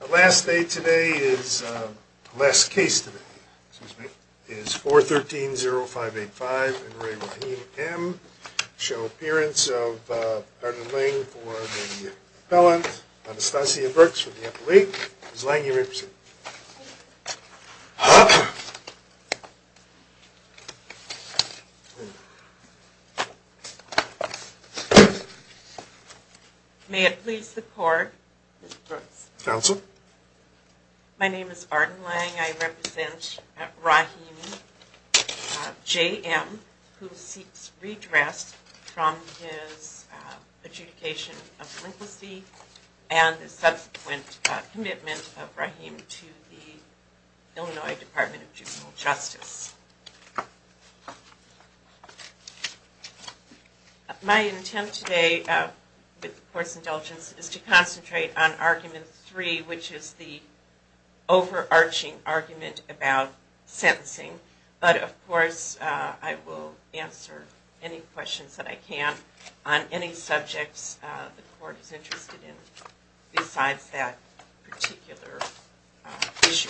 The last case today is 413-0585, and re Raheem M., show appearance of the appellant, Anastasia Brooks, for the appellate, Ms. Lang, you may proceed. May it please the court, my name is Arden Lang, I represent Raheem J.M., who seeks redress from his adjudication of delinquency and the subsequent commitment of Raheem to the Illinois Department of Juvenile Justice. My intent today, with the court's indulgence, is to concentrate on argument 3, which is the overarching argument about sentencing, but of course I will answer any questions that I can on any subjects the court is interested in besides that particular issue.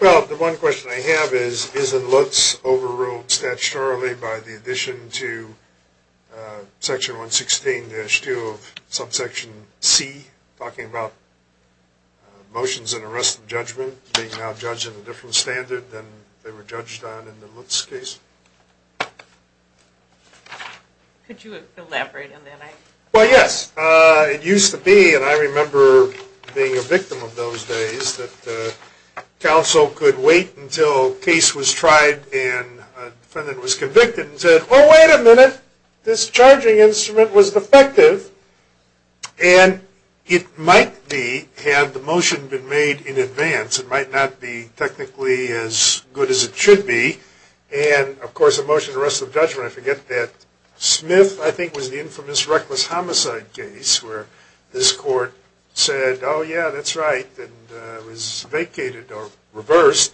Well the one question I have is, isn't Lutz overruled statutorily by the addition to section 116-2 of subsection C, talking about motions and arrest of judgment, being now judged in a different standard than they were judged on in the Lutz case? Could you elaborate on that? Well yes, it used to be, and I remember being a victim of those days, that counsel could wait until a case was tried and a defendant was convicted and said, oh wait a minute, this charging instrument was defective, and it might be, had the motion been made in advance, it might not be technically as good as it should be, and of course the motion to arrest of judgment, I forget that, Smith, I think was the infamous reckless homicide case, where this court said, oh yeah, that's right, and it was vacated or reversed,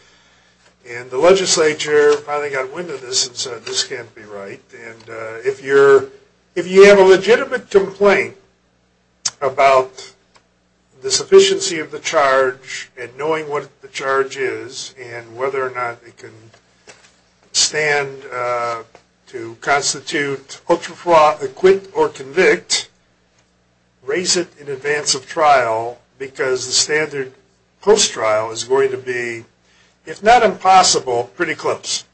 and the legislature finally got wind of this and said, this can't be right, and if you have a legitimate complaint about the sufficiency of the charge, and knowing what the charge is, and whether or not it can stand to constitute ultra-fraud, acquit or convict, raise it in advance of trial, because the standard post-trial is going to be, if not impossible, pretty close.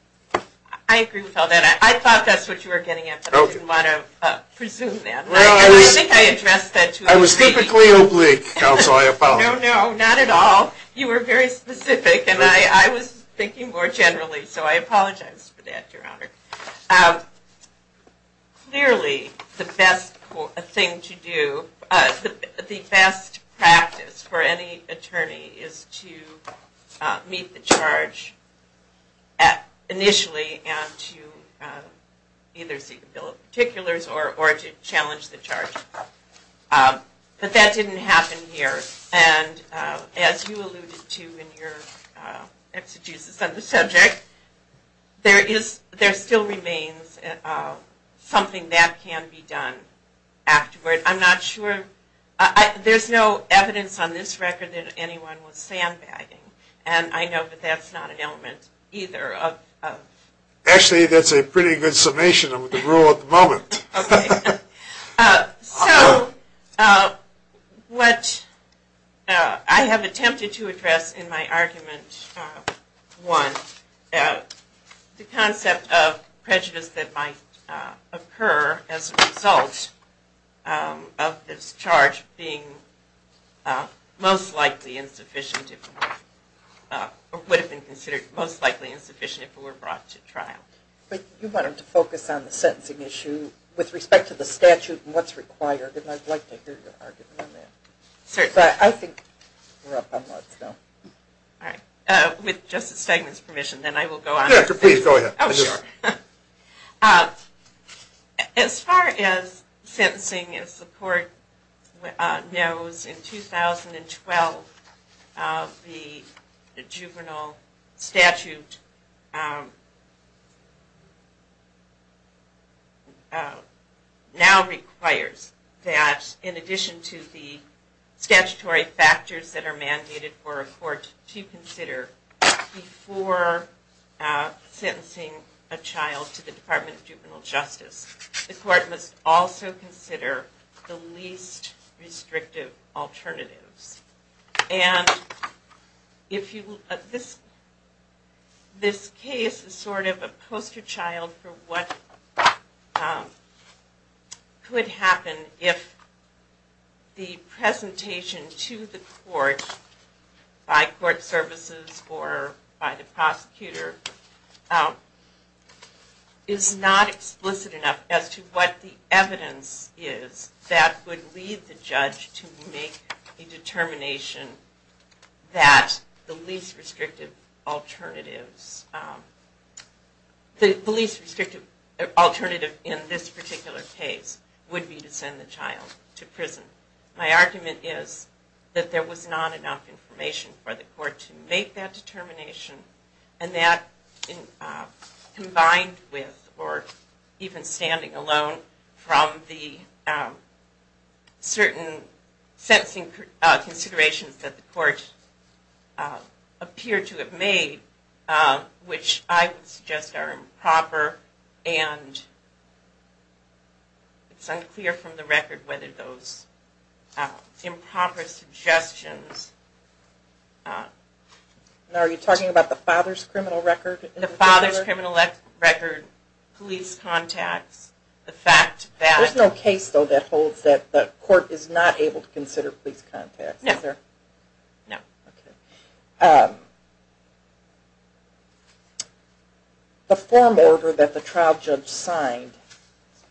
I agree with all that. I thought that's what you were getting at, but I didn't want to presume that. I was typically oblique, counsel, I apologize. No, no, not at all. You were very specific, and I was thinking more generally, so I apologize for that, Your Honor. Clearly, the best thing to do, the best practice for any attorney is to meet the charge initially, and to either seek a bill of particulars, or to challenge the charge. But that didn't happen here, and as you alluded to in your exegesis on the record, there still remains something that can be done afterward. I'm not sure, there's no evidence on this record that anyone was sandbagging, and I know that that's not an element either. Actually, that's a pretty good summation of the rule at the moment. Okay. So, what I have attempted to address in my argument one, the concept of prejudice that might occur as a result of this charge being most likely insufficient, or would have been considered most likely insufficient if it were brought to trial. But you wanted to focus on the sentencing issue with respect to the statute and what's required, and I'd like to hear your argument on that. Certainly. But I think we're up on lots now. All right. With Justice Stegman's permission, then I will go on. Yes, please go ahead. Oh, sure. As far as sentencing, as the court knows, in 2012, the juvenile statute now requires that in addition to the statutory factors that are mandated for a court to consider before sentencing a child to the Department of Juvenile Justice, the court must also consider the least restrictive alternatives. And this case is sort of a poster child for what could happen if the presentation to the court by court services or by the prosecutor is not explicit enough as to what the evidence is that would lead the judge to make a determination that the least restrictive alternative in this particular case would be to send the child to prison. My argument is that there was not enough information for the court to make that determination, and that combined with or even standing alone from the certain sentencing considerations that the court appeared to have made, which I would suggest are improper and it's unclear from the record whether those improper suggestions... Are you talking about the father's criminal record? The father's criminal record, police contacts, the fact that... There's no case, though, that holds that the court is not able to consider police contacts, is there? No. The form order that the trial judge signed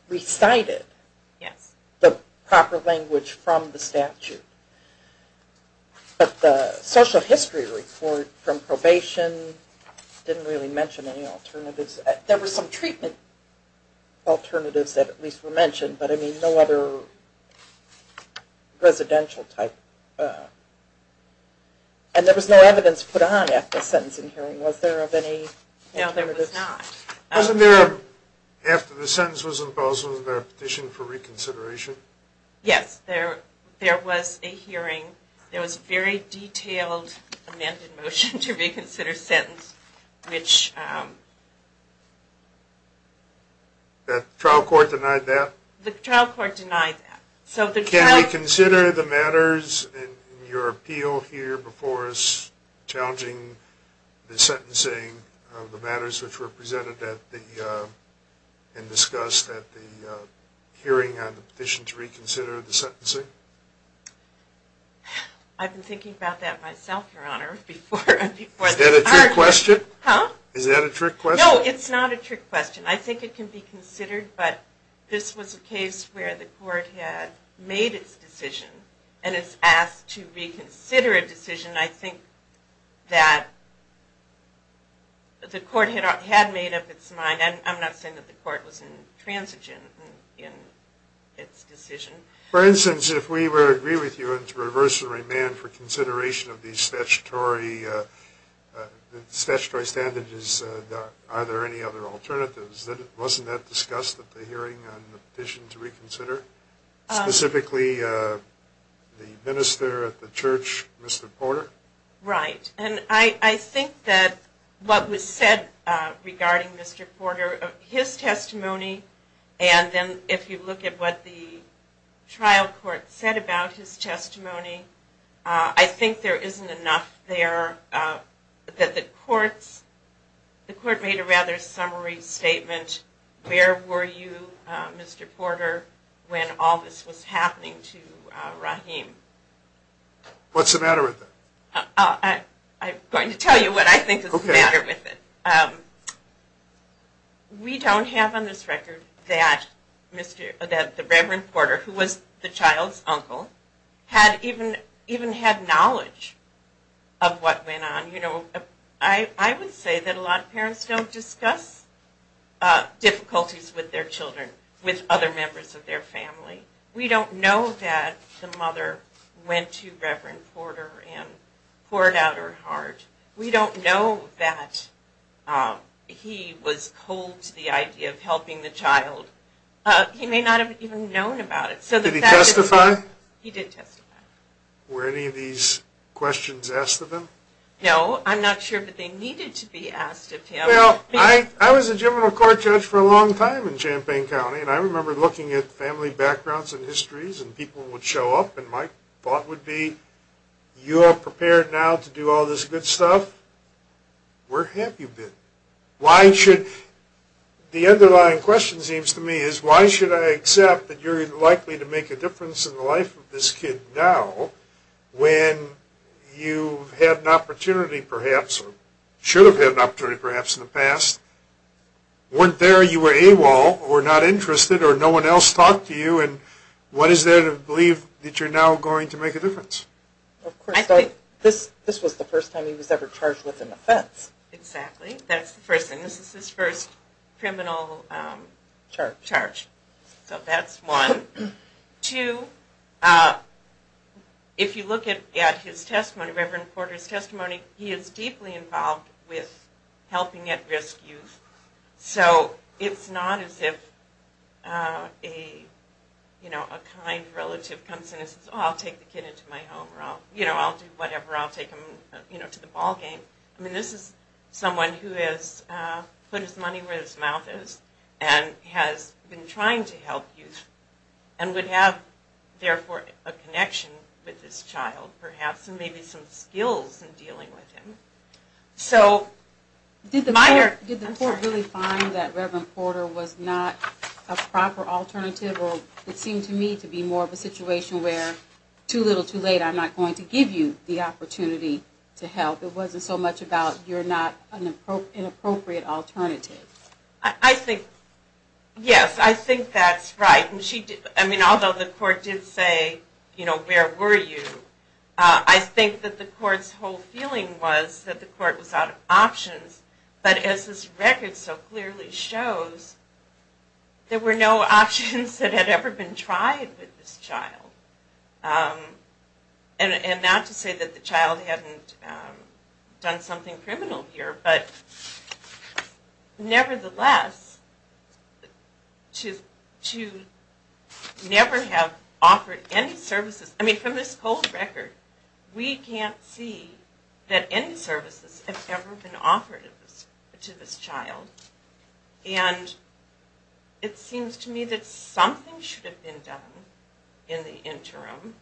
recited the proper language from the statute, but the social history report from probation didn't really mention any alternatives. There were some treatment alternatives that at least were mentioned, but no other residential type... And there was no evidence put on after the sentencing hearing, was there of any... No, there was not. Wasn't there, after the sentence was imposed, was there a petition for reconsideration? Yes, there was a hearing. There was a very detailed amended motion to reconsider sentence, which... The trial court denied that? The trial court denied that. Can we consider the matters in your appeal here before us challenging the sentencing of the matters which were presented and discussed at the hearing on the petition to reconsider the sentencing? I've been thinking about that myself, Your Honor, before the hearing. Is that a trick question? Huh? Is that a trick question? No, it's not a trick question. I think it can be considered, but this was a case where the court had made its decision and is asked to reconsider a decision. I think that the court had made up its mind. I'm not saying that the court was intransigent in its decision. For instance, if we were to agree with you to reverse and remand for consideration of these statutory standards, are there any other alternatives? Wasn't that discussed at the hearing on the petition to reconsider? Specifically, the minister at the church, Mr. Porter? Right, and I think that what was said regarding Mr. Porter, his testimony, and then if you look at what the trial court said about his testimony, I think there isn't enough there that the court made a rather summary statement. Where were you, Mr. Porter, when all this was happening to Rahim? What's the matter with it? I'm going to tell you what I think is the matter with it. We don't have on this record that the Reverend Porter, who was the child's uncle, had even had knowledge of what went on. I would say that a lot of parents don't discuss difficulties with their children, with other members of their family. We don't know that the mother went to Reverend Porter and poured out her heart. We don't know that he was cold to the idea of helping the child. He may not have even known about it. Did he testify? He did testify. Were any of these questions asked of him? No, I'm not sure that they needed to be asked of him. Well, I was a general court judge for a long time in Champaign County, and I remember looking at family backgrounds and histories, and people would show up, and my thought would be, you are prepared now to do all this good stuff? Where have you been? The underlying question seems to me is, why should I accept that you're likely to make a difference in the life of this kid now when you've had an opportunity, perhaps, or should have had an opportunity, perhaps, in the past? Weren't there, you were AWOL, or not interested, or no one else talked to you, and what is there to believe that you're now going to make a difference? Of course, this was the first time he was ever charged with an offense. Exactly. That's the first thing. This is his first criminal charge. So that's one. Two, if you look at his testimony, Reverend Porter's testimony, he is deeply involved with helping at-risk youth. So it's not as if a kind relative comes in and says, I'll take the kid into my home, or I'll do whatever, I'll take him to the ballgame. I mean, this is someone who has put his money where his mouth is, and has been trying to help youth, and would have, therefore, a connection with this child, perhaps, and maybe some skills in dealing with him. Did the court really find that Reverend Porter was not a proper alternative, or it seemed to me to be more of a situation where too little, too late, I'm not going to give you the opportunity to help? It wasn't so much about you're not an inappropriate alternative. Yes, I think that's right. I mean, although the court did say, you know, where were you, I think that the court's whole feeling was that the court was out of options, but as this record so clearly shows, there were no options that had ever been tried with this child. And not to say that the child hadn't done something criminal here, but nevertheless, to never have offered any services, I mean, from this cold record, we can't see that any services have ever been offered to this child, and it seems to me that something should have been done in the interim,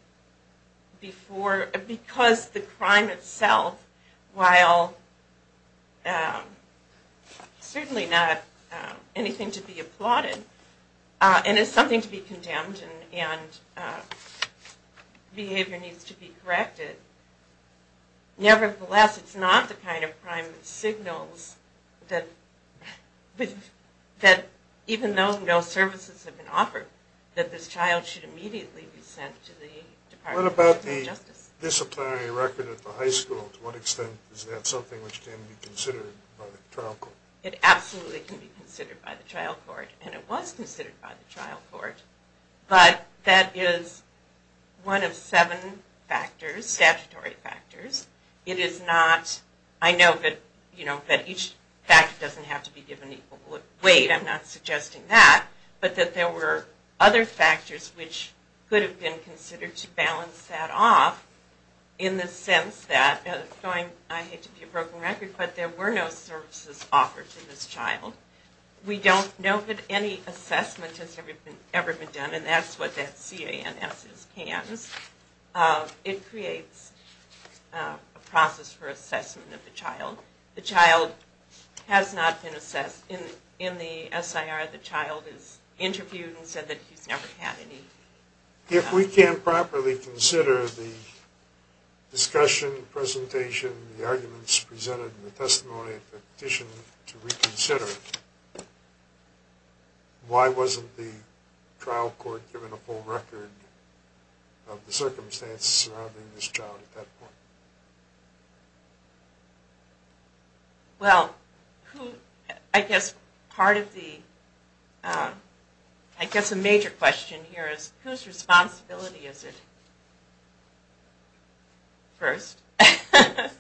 because the crime itself, while certainly not anything to be applauded, and it's something to be condemned and behavior needs to be corrected, nevertheless, it's not the kind of crime that signals that, even though no services have been offered, that this child should immediately be sent to the Department of Justice. What about the disciplinary record at the high school? To what extent is that something which can be considered by the trial court? It absolutely can be considered by the trial court, and it was considered by the trial court, but that is one of seven statutory factors. I know that each factor doesn't have to be given equal weight, I'm not suggesting that, but that there were other factors which could have been considered to balance that off in the sense that, I hate to be a broken record, but there were no services offered to this child. We don't know that any assessment has ever been done, and that's what that CANS is. It creates a process for assessment of the child. The child has not been assessed. In the SIR, the child is interviewed and said that he's never had any. If we can't properly consider the discussion, presentation, the arguments presented in the testimony and petition to reconsider, why wasn't the trial court given a full record of the circumstances surrounding this child at that point? Well, I guess part of the, I guess a major question here is, whose responsibility is it? First.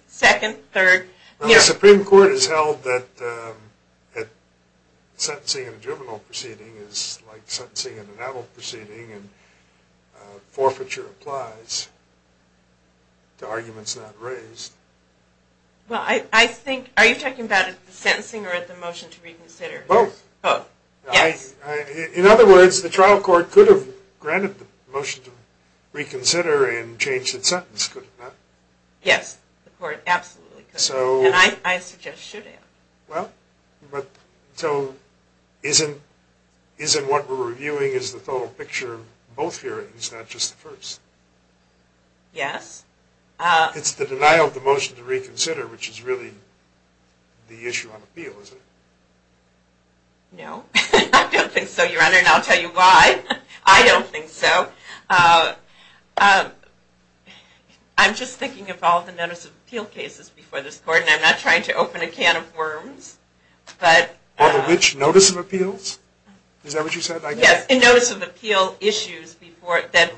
Second. Third. The Supreme Court has held that sentencing in a juvenile proceeding is like sentencing in an adult proceeding, and forfeiture applies to arguments not raised. Well, I think, are you talking about the sentencing or the motion to reconsider? Both. Both. Yes. In other words, the trial court could have granted the motion to reconsider and changed its sentence, could it not? Yes, the court absolutely could. And I suggest should have. Well, so isn't what we're reviewing is the total picture of both hearings, not just the first? Yes. It's the denial of the motion to reconsider, which is really the issue on appeal, isn't it? No. I don't think so, Your Honor, and I'll tell you why. I don't think so. I'm just thinking of all the notice of appeal cases before this court, and I'm not trying to open a can of worms. All the which? Notice of appeals? Is that what you said? Yes, and notice of appeal issues that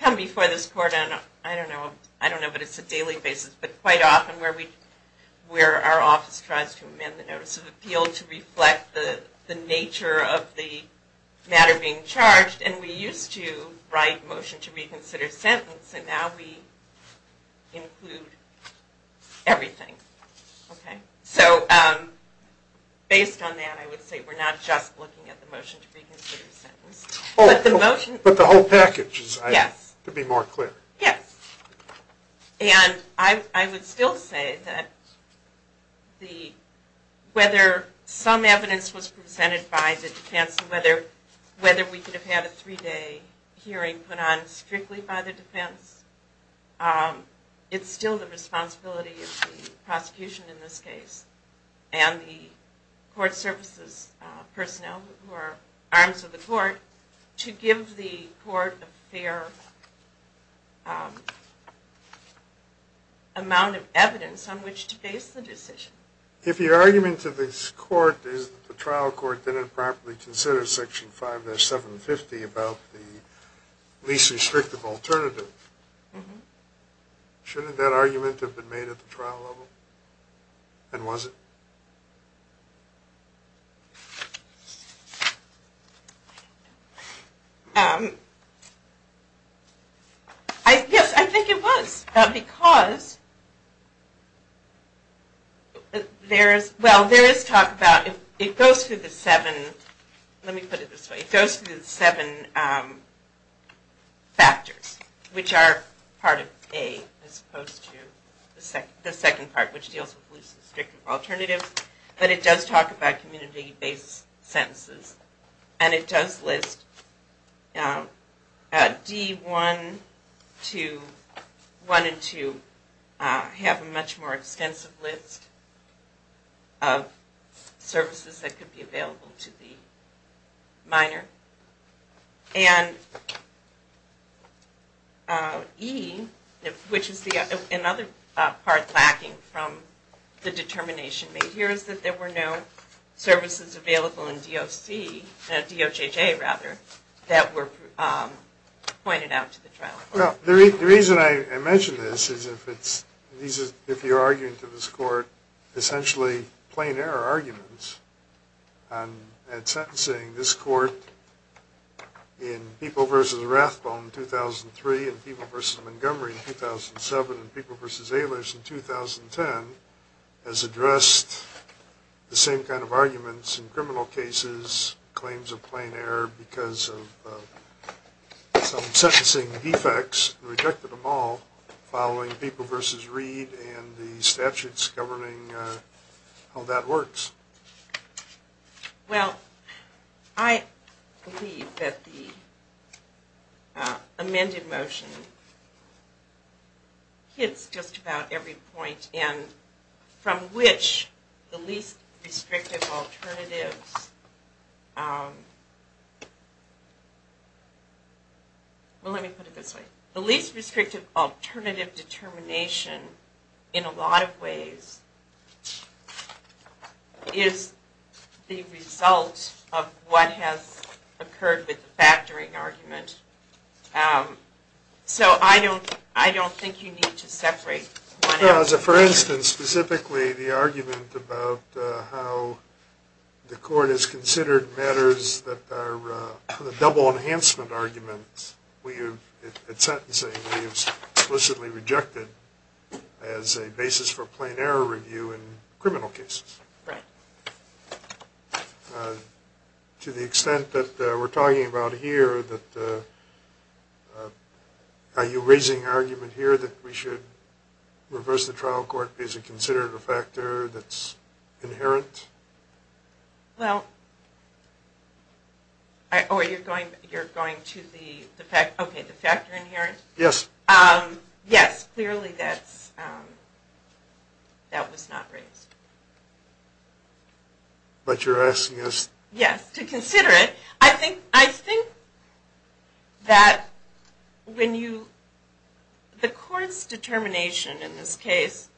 come before this court, and I don't know, but it's a daily basis, but quite often where our office tries to amend the notice of appeal to reflect the nature of the matter being charged, and we used to write motion to reconsider sentence, and now we include everything. So based on that, I would say we're not just looking at the motion to reconsider sentence. But the whole package, to be more clear. Yes. And I would still say that whether some evidence was presented by the defense and whether we could have had a three-day hearing put on strictly by the defense, it's still the responsibility of the prosecution in this case and the court services personnel who are arms of the court to give the court a fair amount of evidence on which to face the decision. If your argument to this court is that the trial court didn't properly consider Section 5-750 about the least restrictive alternative, shouldn't that argument have been made at the trial level? And was it? Yes, I think it was. Because there is talk about it goes through the seven factors, which are part of A as opposed to the second part, which deals with least restrictive alternatives. But it does talk about community-based sentences, and it does list D1 to 1 and 2 have a much more extensive list of services that could be available to the minor. And E, which is another part lacking from the determination made here, is that there were no services available in DOJJ that were pointed out to the trial court. The reason I mention this is if you're arguing to this court essentially plain error arguments at sentencing, this court in People v. Rathbone in 2003 and People v. Montgomery in 2007 and People v. Ehlers in 2010 has addressed the same kind of arguments in criminal cases, claims of plain error because of some sentencing defects, rejected them all, following People v. Reed and the statutes governing how that works. Well, I believe that the amended motion hits just about every point and from which the least restrictive alternatives – well, let me put it this way. The least restrictive alternative determination in a lot of ways is the result of what has occurred with the factoring argument. So I don't think you need to separate one out. For instance, specifically the argument about how the court has explicitly rejected as a basis for plain error review in criminal cases. Right. To the extent that we're talking about here, are you raising argument here that we should reverse the trial court because it considered a factor that's inherent? Well – oh, you're going to the – okay, the factor inherent? Yes. Yes, clearly that was not raised. But you're asking us – Yes, to consider it. I think that when you – the court's determination in this case,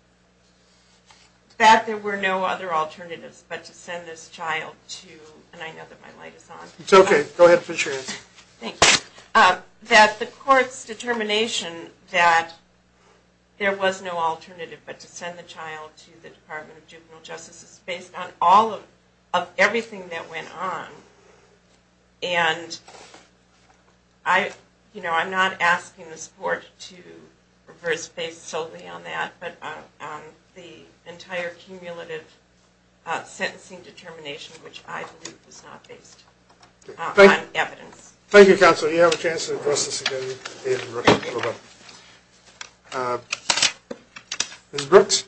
that there were no other alternatives but to send this child to – and I know that my light is on. It's okay. Go ahead and put your hand up. Thank you. That the court's determination that there was no alternative but to send the child to the Department of Juvenile Justice is based on all of – of everything that went on. And I – you know, I'm not asking the support to reverse based solely on that, but on the entire cumulative sentencing determination, which I believe was not based on evidence. Thank you, Counsel. You have a chance to address this again. Ms. Brooks.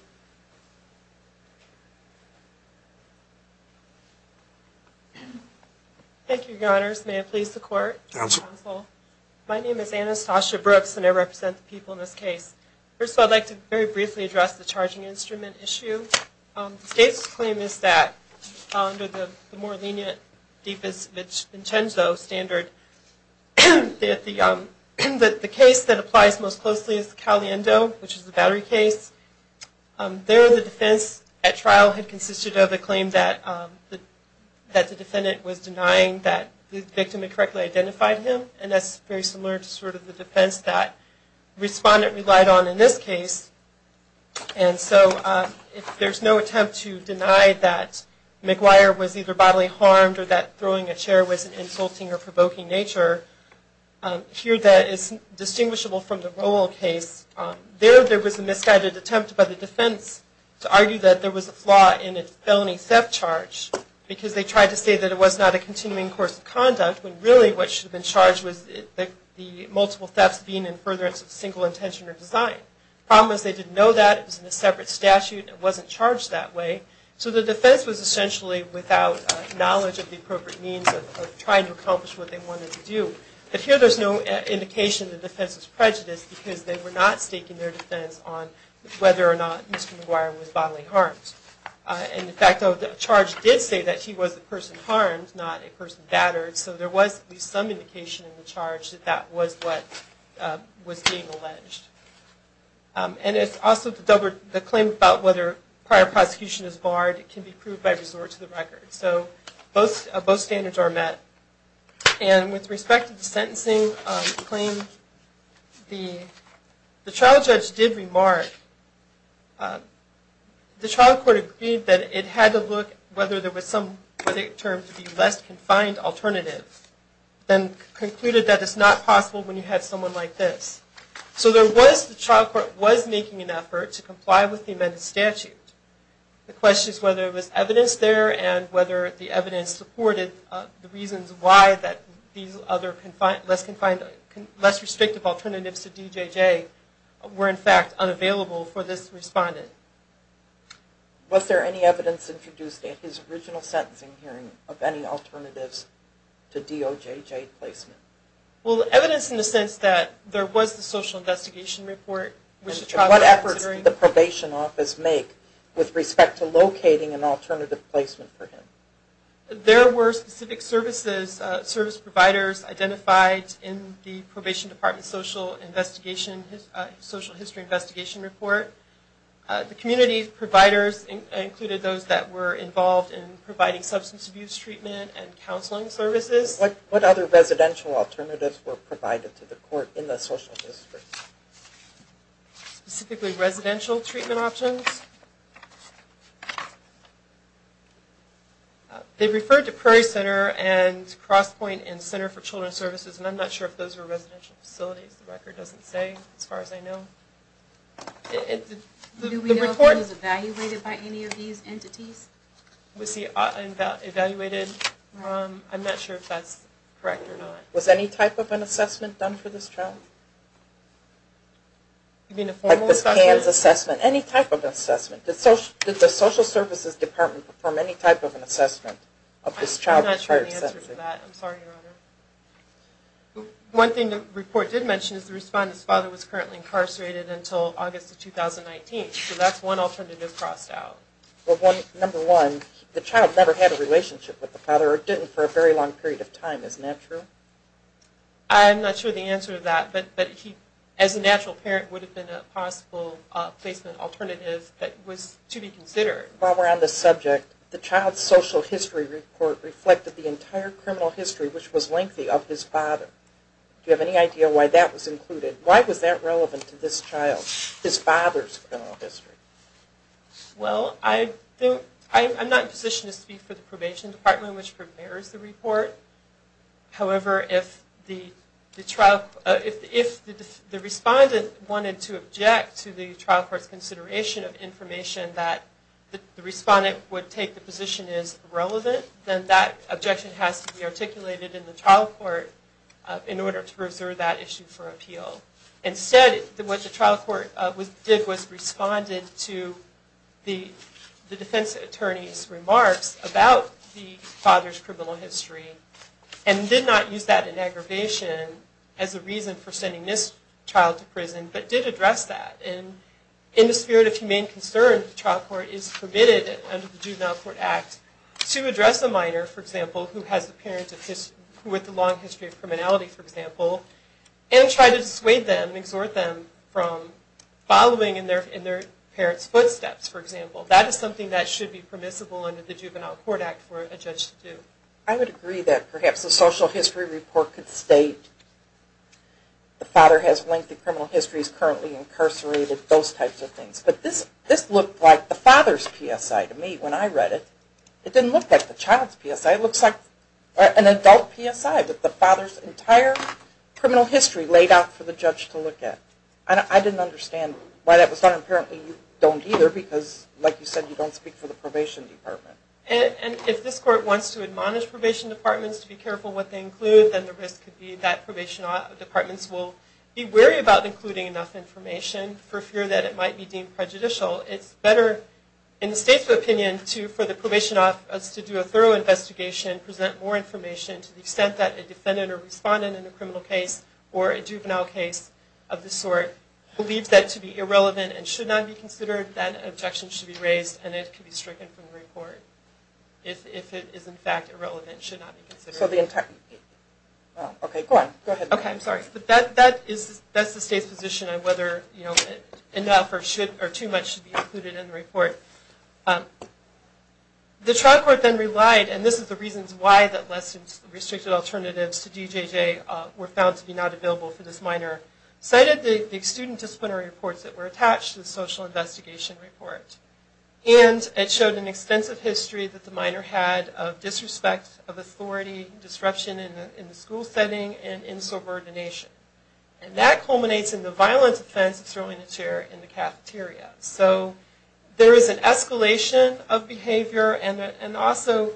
Thank you, Your Honors. May it please the Court. Counsel. Counsel. My name is Anastasia Brooks, and I represent the people in this case. First of all, I'd like to very briefly address the charging instrument issue. The state's claim is that under the more lenient, deepest Vincenzo standard, the case that applies most closely is the Caliendo, which is the battery case. There, the defense at trial had consisted of a claim that the defendant was denying that the victim had correctly identified him, and that's very similar to sort of the defense that the respondent relied on in this case. And so if there's no attempt to deny that McGuire was either bodily harmed or that throwing a chair was an insulting or provoking nature, here that is distinguishable from the Rowell case. There, there was a misguided attempt by the defense to argue that there was a flaw in its felony theft charge because they tried to say that it was not a continuing course of conduct when really what should have been charged was the multiple thefts being in furtherance of single intention or design. The problem is they didn't know that. It was in a separate statute. It wasn't charged that way. So the defense was essentially without knowledge of the appropriate means of trying to accomplish what they wanted to do. But here there's no indication the defense was prejudiced because they were not staking their defense on whether or not Mr. McGuire was bodily harmed. And in fact, the charge did say that he was the person harmed, not a person battered, so there was at least some indication in the charge that that was what was being alleged. And it's also the claim about whether prior prosecution is barred can be proved by resort to the record. So both standards are met. And with respect to the sentencing claim, the trial judge did remark, the trial court agreed that it had to look whether there was some term to be less confined alternative, then concluded that it's not possible when you have someone like this. So there was, the trial court was making an effort to comply with the amended statute. The question is whether there was evidence there and whether the evidence supported the reasons why that these other less confined, less restrictive alternatives to DJJ were, in fact, unavailable for this respondent. Was there any evidence introduced at his original sentencing hearing of any alternatives to DOJJ placement? Well, evidence in the sense that there was the social investigation report. And what efforts did the probation office make with respect to locating an alternative placement for him? There were specific services, service providers identified in the probation department social investigation, social history investigation report. The community providers included those that were involved in providing substance abuse treatment and counseling services. What other residential alternatives were provided to the court in the social history? Specifically residential treatment options. They referred to Prairie Center and Crosspoint and Center for Children's Services, and I'm not sure if those were residential facilities. The record doesn't say as far as I know. Do we know if it was evaluated by any of these entities? Was he evaluated? I'm not sure if that's correct or not. Was any type of an assessment done for this child? You mean a formal assessment? Like this PANS assessment, any type of assessment. Did the social services department perform any type of an assessment of this child at Prairie Center? I don't have an answer for that. I'm sorry, Your Honor. One thing the report did mention is the respondent's father was currently incarcerated until August of 2019. So that's one alternative crossed out. Number one, the child never had a relationship with the father or didn't for a very long period of time. Isn't that true? I'm not sure of the answer to that. But as a natural parent, it would have been a possible placement alternative that was to be considered. While we're on the subject, the child's social history report reflected the entire criminal history, which was lengthy, of his father. Do you have any idea why that was included? Why was that relevant to this child, his father's criminal history? Well, I'm not in a position to speak for the probation department, which prepares the report. However, if the respondent wanted to object to the trial court's consideration of information and that the respondent would take the position as irrelevant, then that objection has to be articulated in the trial court in order to preserve that issue for appeal. Instead, what the trial court did was responded to the defense attorney's remarks about the father's criminal history and did not use that in aggravation as a reason for sending this child to prison, but did address that. In the spirit of humane concern, the trial court is permitted under the Juvenile Court Act to address a minor, for example, who has a long history of criminality, for example, and try to dissuade them, exhort them from following in their parents' footsteps, for example. That is something that should be permissible under the Juvenile Court Act for a judge to do. I would agree that perhaps the social history report could state the father has lengthy criminal histories, currently incarcerated, those types of things. But this looked like the father's PSI to me when I read it. It didn't look like the child's PSI. It looks like an adult PSI that the father's entire criminal history laid out for the judge to look at. I didn't understand why that was done. Apparently you don't either because, like you said, you don't speak for the probation department. And if this court wants to admonish probation departments to be careful what they include, then the risk could be that probation departments will be wary about including enough information for fear that it might be deemed prejudicial. It's better, in the state's opinion, for the probation office to do a thorough investigation and present more information to the extent that a defendant or respondent in a criminal case or a juvenile case of this sort believes that to be irrelevant and should not be considered, that objection should be raised and it could be stricken from the report. Okay, go ahead. Okay, I'm sorry. That's the state's position on whether enough or too much should be included in the report. The trial court then relied, and this is the reasons why the less restricted alternatives to DJJ were found to be not available for this minor, cited the student disciplinary reports that were attached to the social investigation report. And it showed an extensive history that the minor had of disrespect of authority, disruption in the school setting, and insubordination. And that culminates in the violent offense of throwing a chair in the cafeteria. So there is an escalation of behavior and also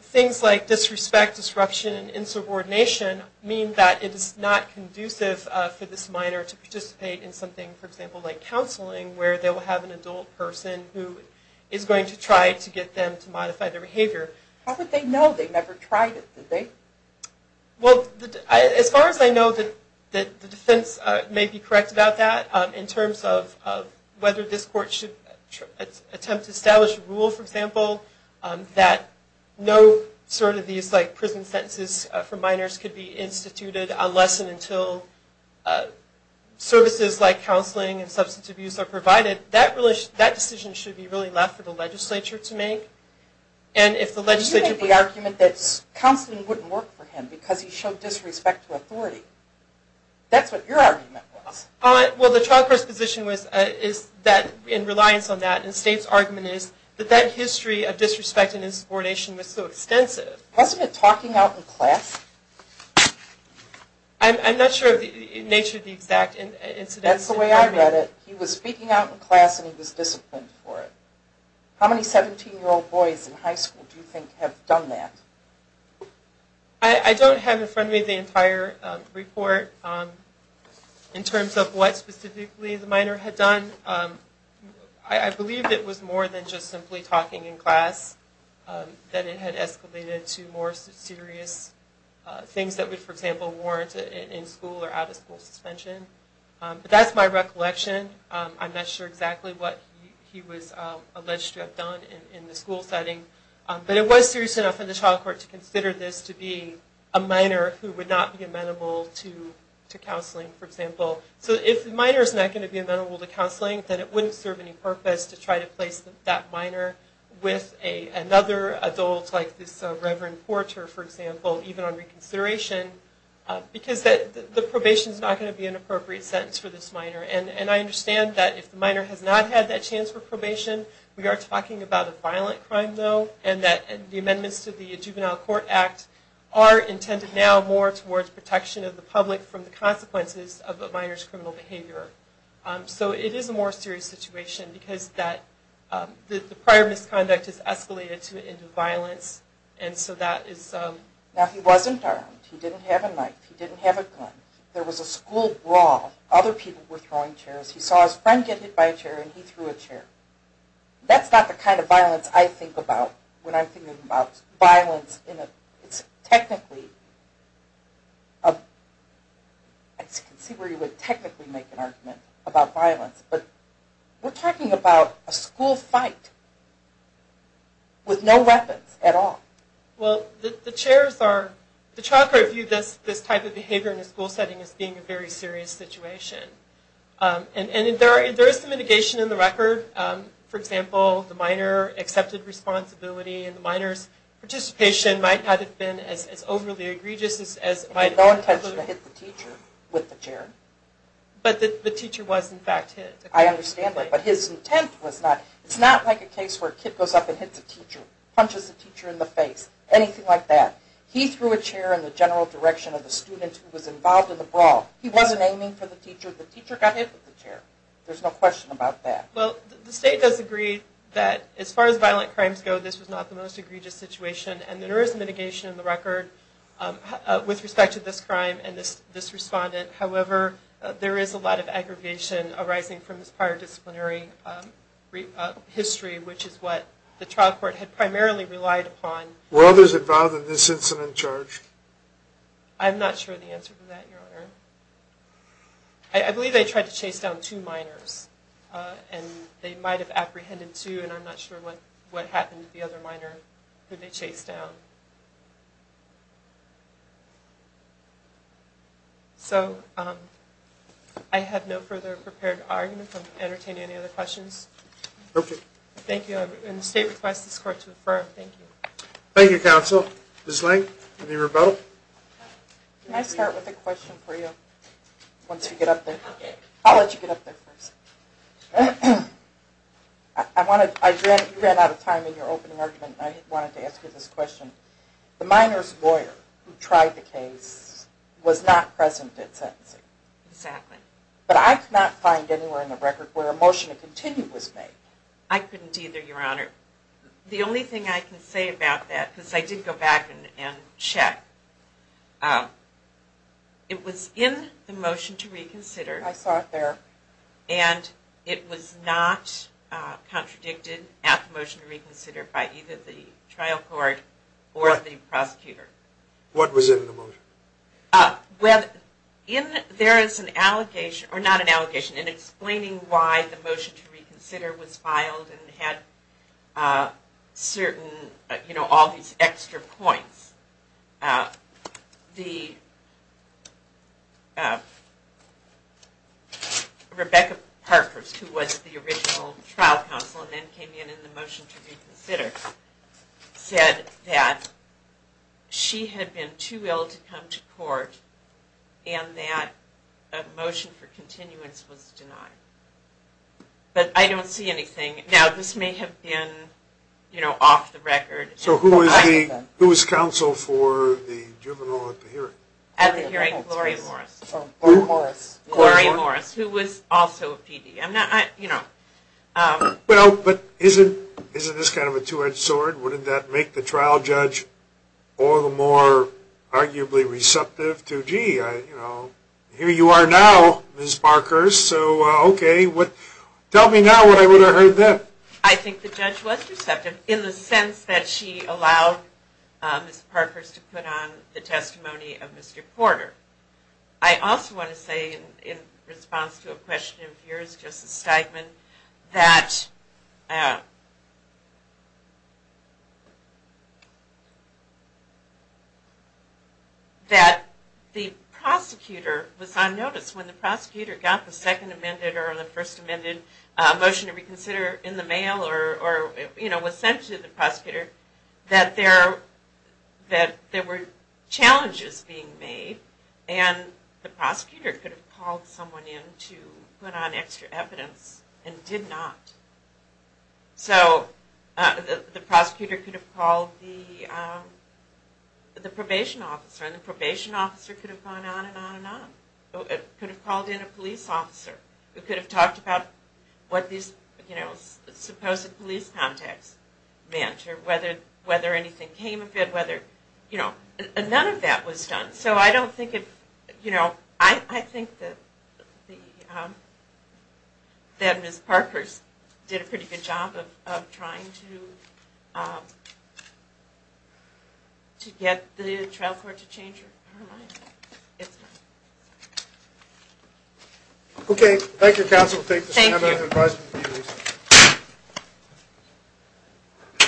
things like disrespect, disruption, and insubordination mean that it is not conducive for this minor to participate in something, for example, like counseling where they will have an adult person who is going to try to get them to modify their behavior. How would they know? They never tried it, did they? Well, as far as I know, the defense may be correct about that in terms of whether this court should attempt to establish a rule, for example, that no sort of these prison sentences for minors could be instituted unless and until services like counseling and substance abuse are provided. That decision should be really left for the legislature to make. And if the legislature... You made the argument that counseling wouldn't work for him because he showed disrespect to authority. That's what your argument was. Well, the child court's position is that, in reliance on that, and the state's argument is that that history of disrespect and insubordination was so extensive. Wasn't it talking out in class? I'm not sure of the nature of the exact incident. That's the way I read it. He was speaking out in class and he was disciplined for it. How many 17-year-old boys in high school do you think have done that? I don't have in front of me the entire report in terms of what specifically the minor had done. I believe it was more than just simply talking in class. That it had escalated to more serious things that would, for example, warrant in-school or out-of-school suspension. But that's my recollection. I'm not sure exactly what he was alleged to have done in the school setting. But it was serious enough for the child court to consider this to be a minor who would not be amenable to counseling, for example. So if the minor is not going to be amenable to counseling, then it wouldn't serve any purpose to try to place that minor with another adult like this Reverend Porter, for example, even on reconsideration. Because the probation is not going to be an appropriate sentence for this minor. And I understand that if the minor has not had that chance for probation, we are talking about a violent crime, though. And that the amendments to the Juvenile Court Act are intended now more towards protection of the public from the consequences of a minor's criminal behavior. So it is a more serious situation because the prior misconduct has escalated into violence. And so that is... Now he wasn't armed. He didn't have a knife. He didn't have a gun. There was a school brawl. Other people were throwing chairs. He saw his friend get hit by a chair and he threw a chair. That's not the kind of violence I think about when I'm thinking about violence. It's technically... I can see where you would technically make an argument about violence. But we're talking about a school fight with no weapons at all. Well, the chairs are... The child court viewed this type of behavior in a school setting as being a very serious situation. And there is some mitigation in the record. For example, the minor accepted responsibility. And the minor's participation might not have been as overly egregious as... He had no intention to hit the teacher with the chair. But the teacher was in fact hit. I understand that. But his intent was not... It's not like a case where a kid goes up and hits a teacher, punches a teacher in the face, anything like that. He threw a chair in the general direction of the student who was involved in the brawl. There's no question about that. Well, the state does agree that as far as violent crimes go, this was not the most egregious situation. And there is mitigation in the record with respect to this crime and this respondent. However, there is a lot of aggravation arising from this prior disciplinary history, which is what the child court had primarily relied upon. Were others involved in this incident charged? I'm not sure of the answer to that, Your Honor. I believe they tried to chase down two minors. And they might have apprehended two. And I'm not sure what happened to the other minor who they chased down. So, I have no further prepared argument. I'm entertaining any other questions. Okay. Thank you. And the state requests this court to affirm. Thank you. Thank you, counsel. Ms. Lang, any rebuttal? Can I start with a question for you once we get up there? I'll let you get up there first. You ran out of time in your opening argument, and I wanted to ask you this question. The minor's lawyer who tried the case was not present at sentencing. Exactly. But I could not find anywhere in the record where a motion to continue was made. I couldn't either, Your Honor. The only thing I can say about that, because I did go back and check, it was in the motion to reconsider. I saw it there. And it was not contradicted at the motion to reconsider by either the trial court or the prosecutor. What was in the motion? Well, there is an allegation, or not an allegation, in explaining why the motion to reconsider was filed and had certain, you know, all these extra points. The, Rebecca Parkhurst, who was the original trial counsel and then came in in the motion to reconsider, said that she had been too ill to come to court and that a motion for continuance was denied. But I don't see anything. Now, this may have been, you know, off the record. So who was counsel for the juvenile at the hearing? At the hearing, Gloria Morris. Gloria Morris, who was also a PD. Well, but isn't this kind of a two-edged sword? Wouldn't that make the trial judge all the more arguably receptive to, gee, here you are now, Ms. Parkhurst, so okay. Tell me now what I would have heard then. I think the judge was receptive in the sense that she allowed Ms. Parkhurst to put on the testimony of Mr. Porter. I also want to say in response to a question of yours, Justice Steigman, that the prosecutor was on notice. When the prosecutor got the second amended or the first amended motion to reconsider in the mail or, you know, was sent to the prosecutor, that there were challenges being made and the prosecutor could have called someone in to put on extra evidence and did not. So the prosecutor could have called the probation officer and the probation officer could have gone on and on and on. It could have called in a police officer. It could have talked about what these supposed police contacts meant or whether anything came of it, whether, you know, none of that was done. So I don't think it, you know, I think that Ms. Parkhurst did a pretty good job of trying to get the trial court to change her mind. Okay. Thank you, counsel. Thank you.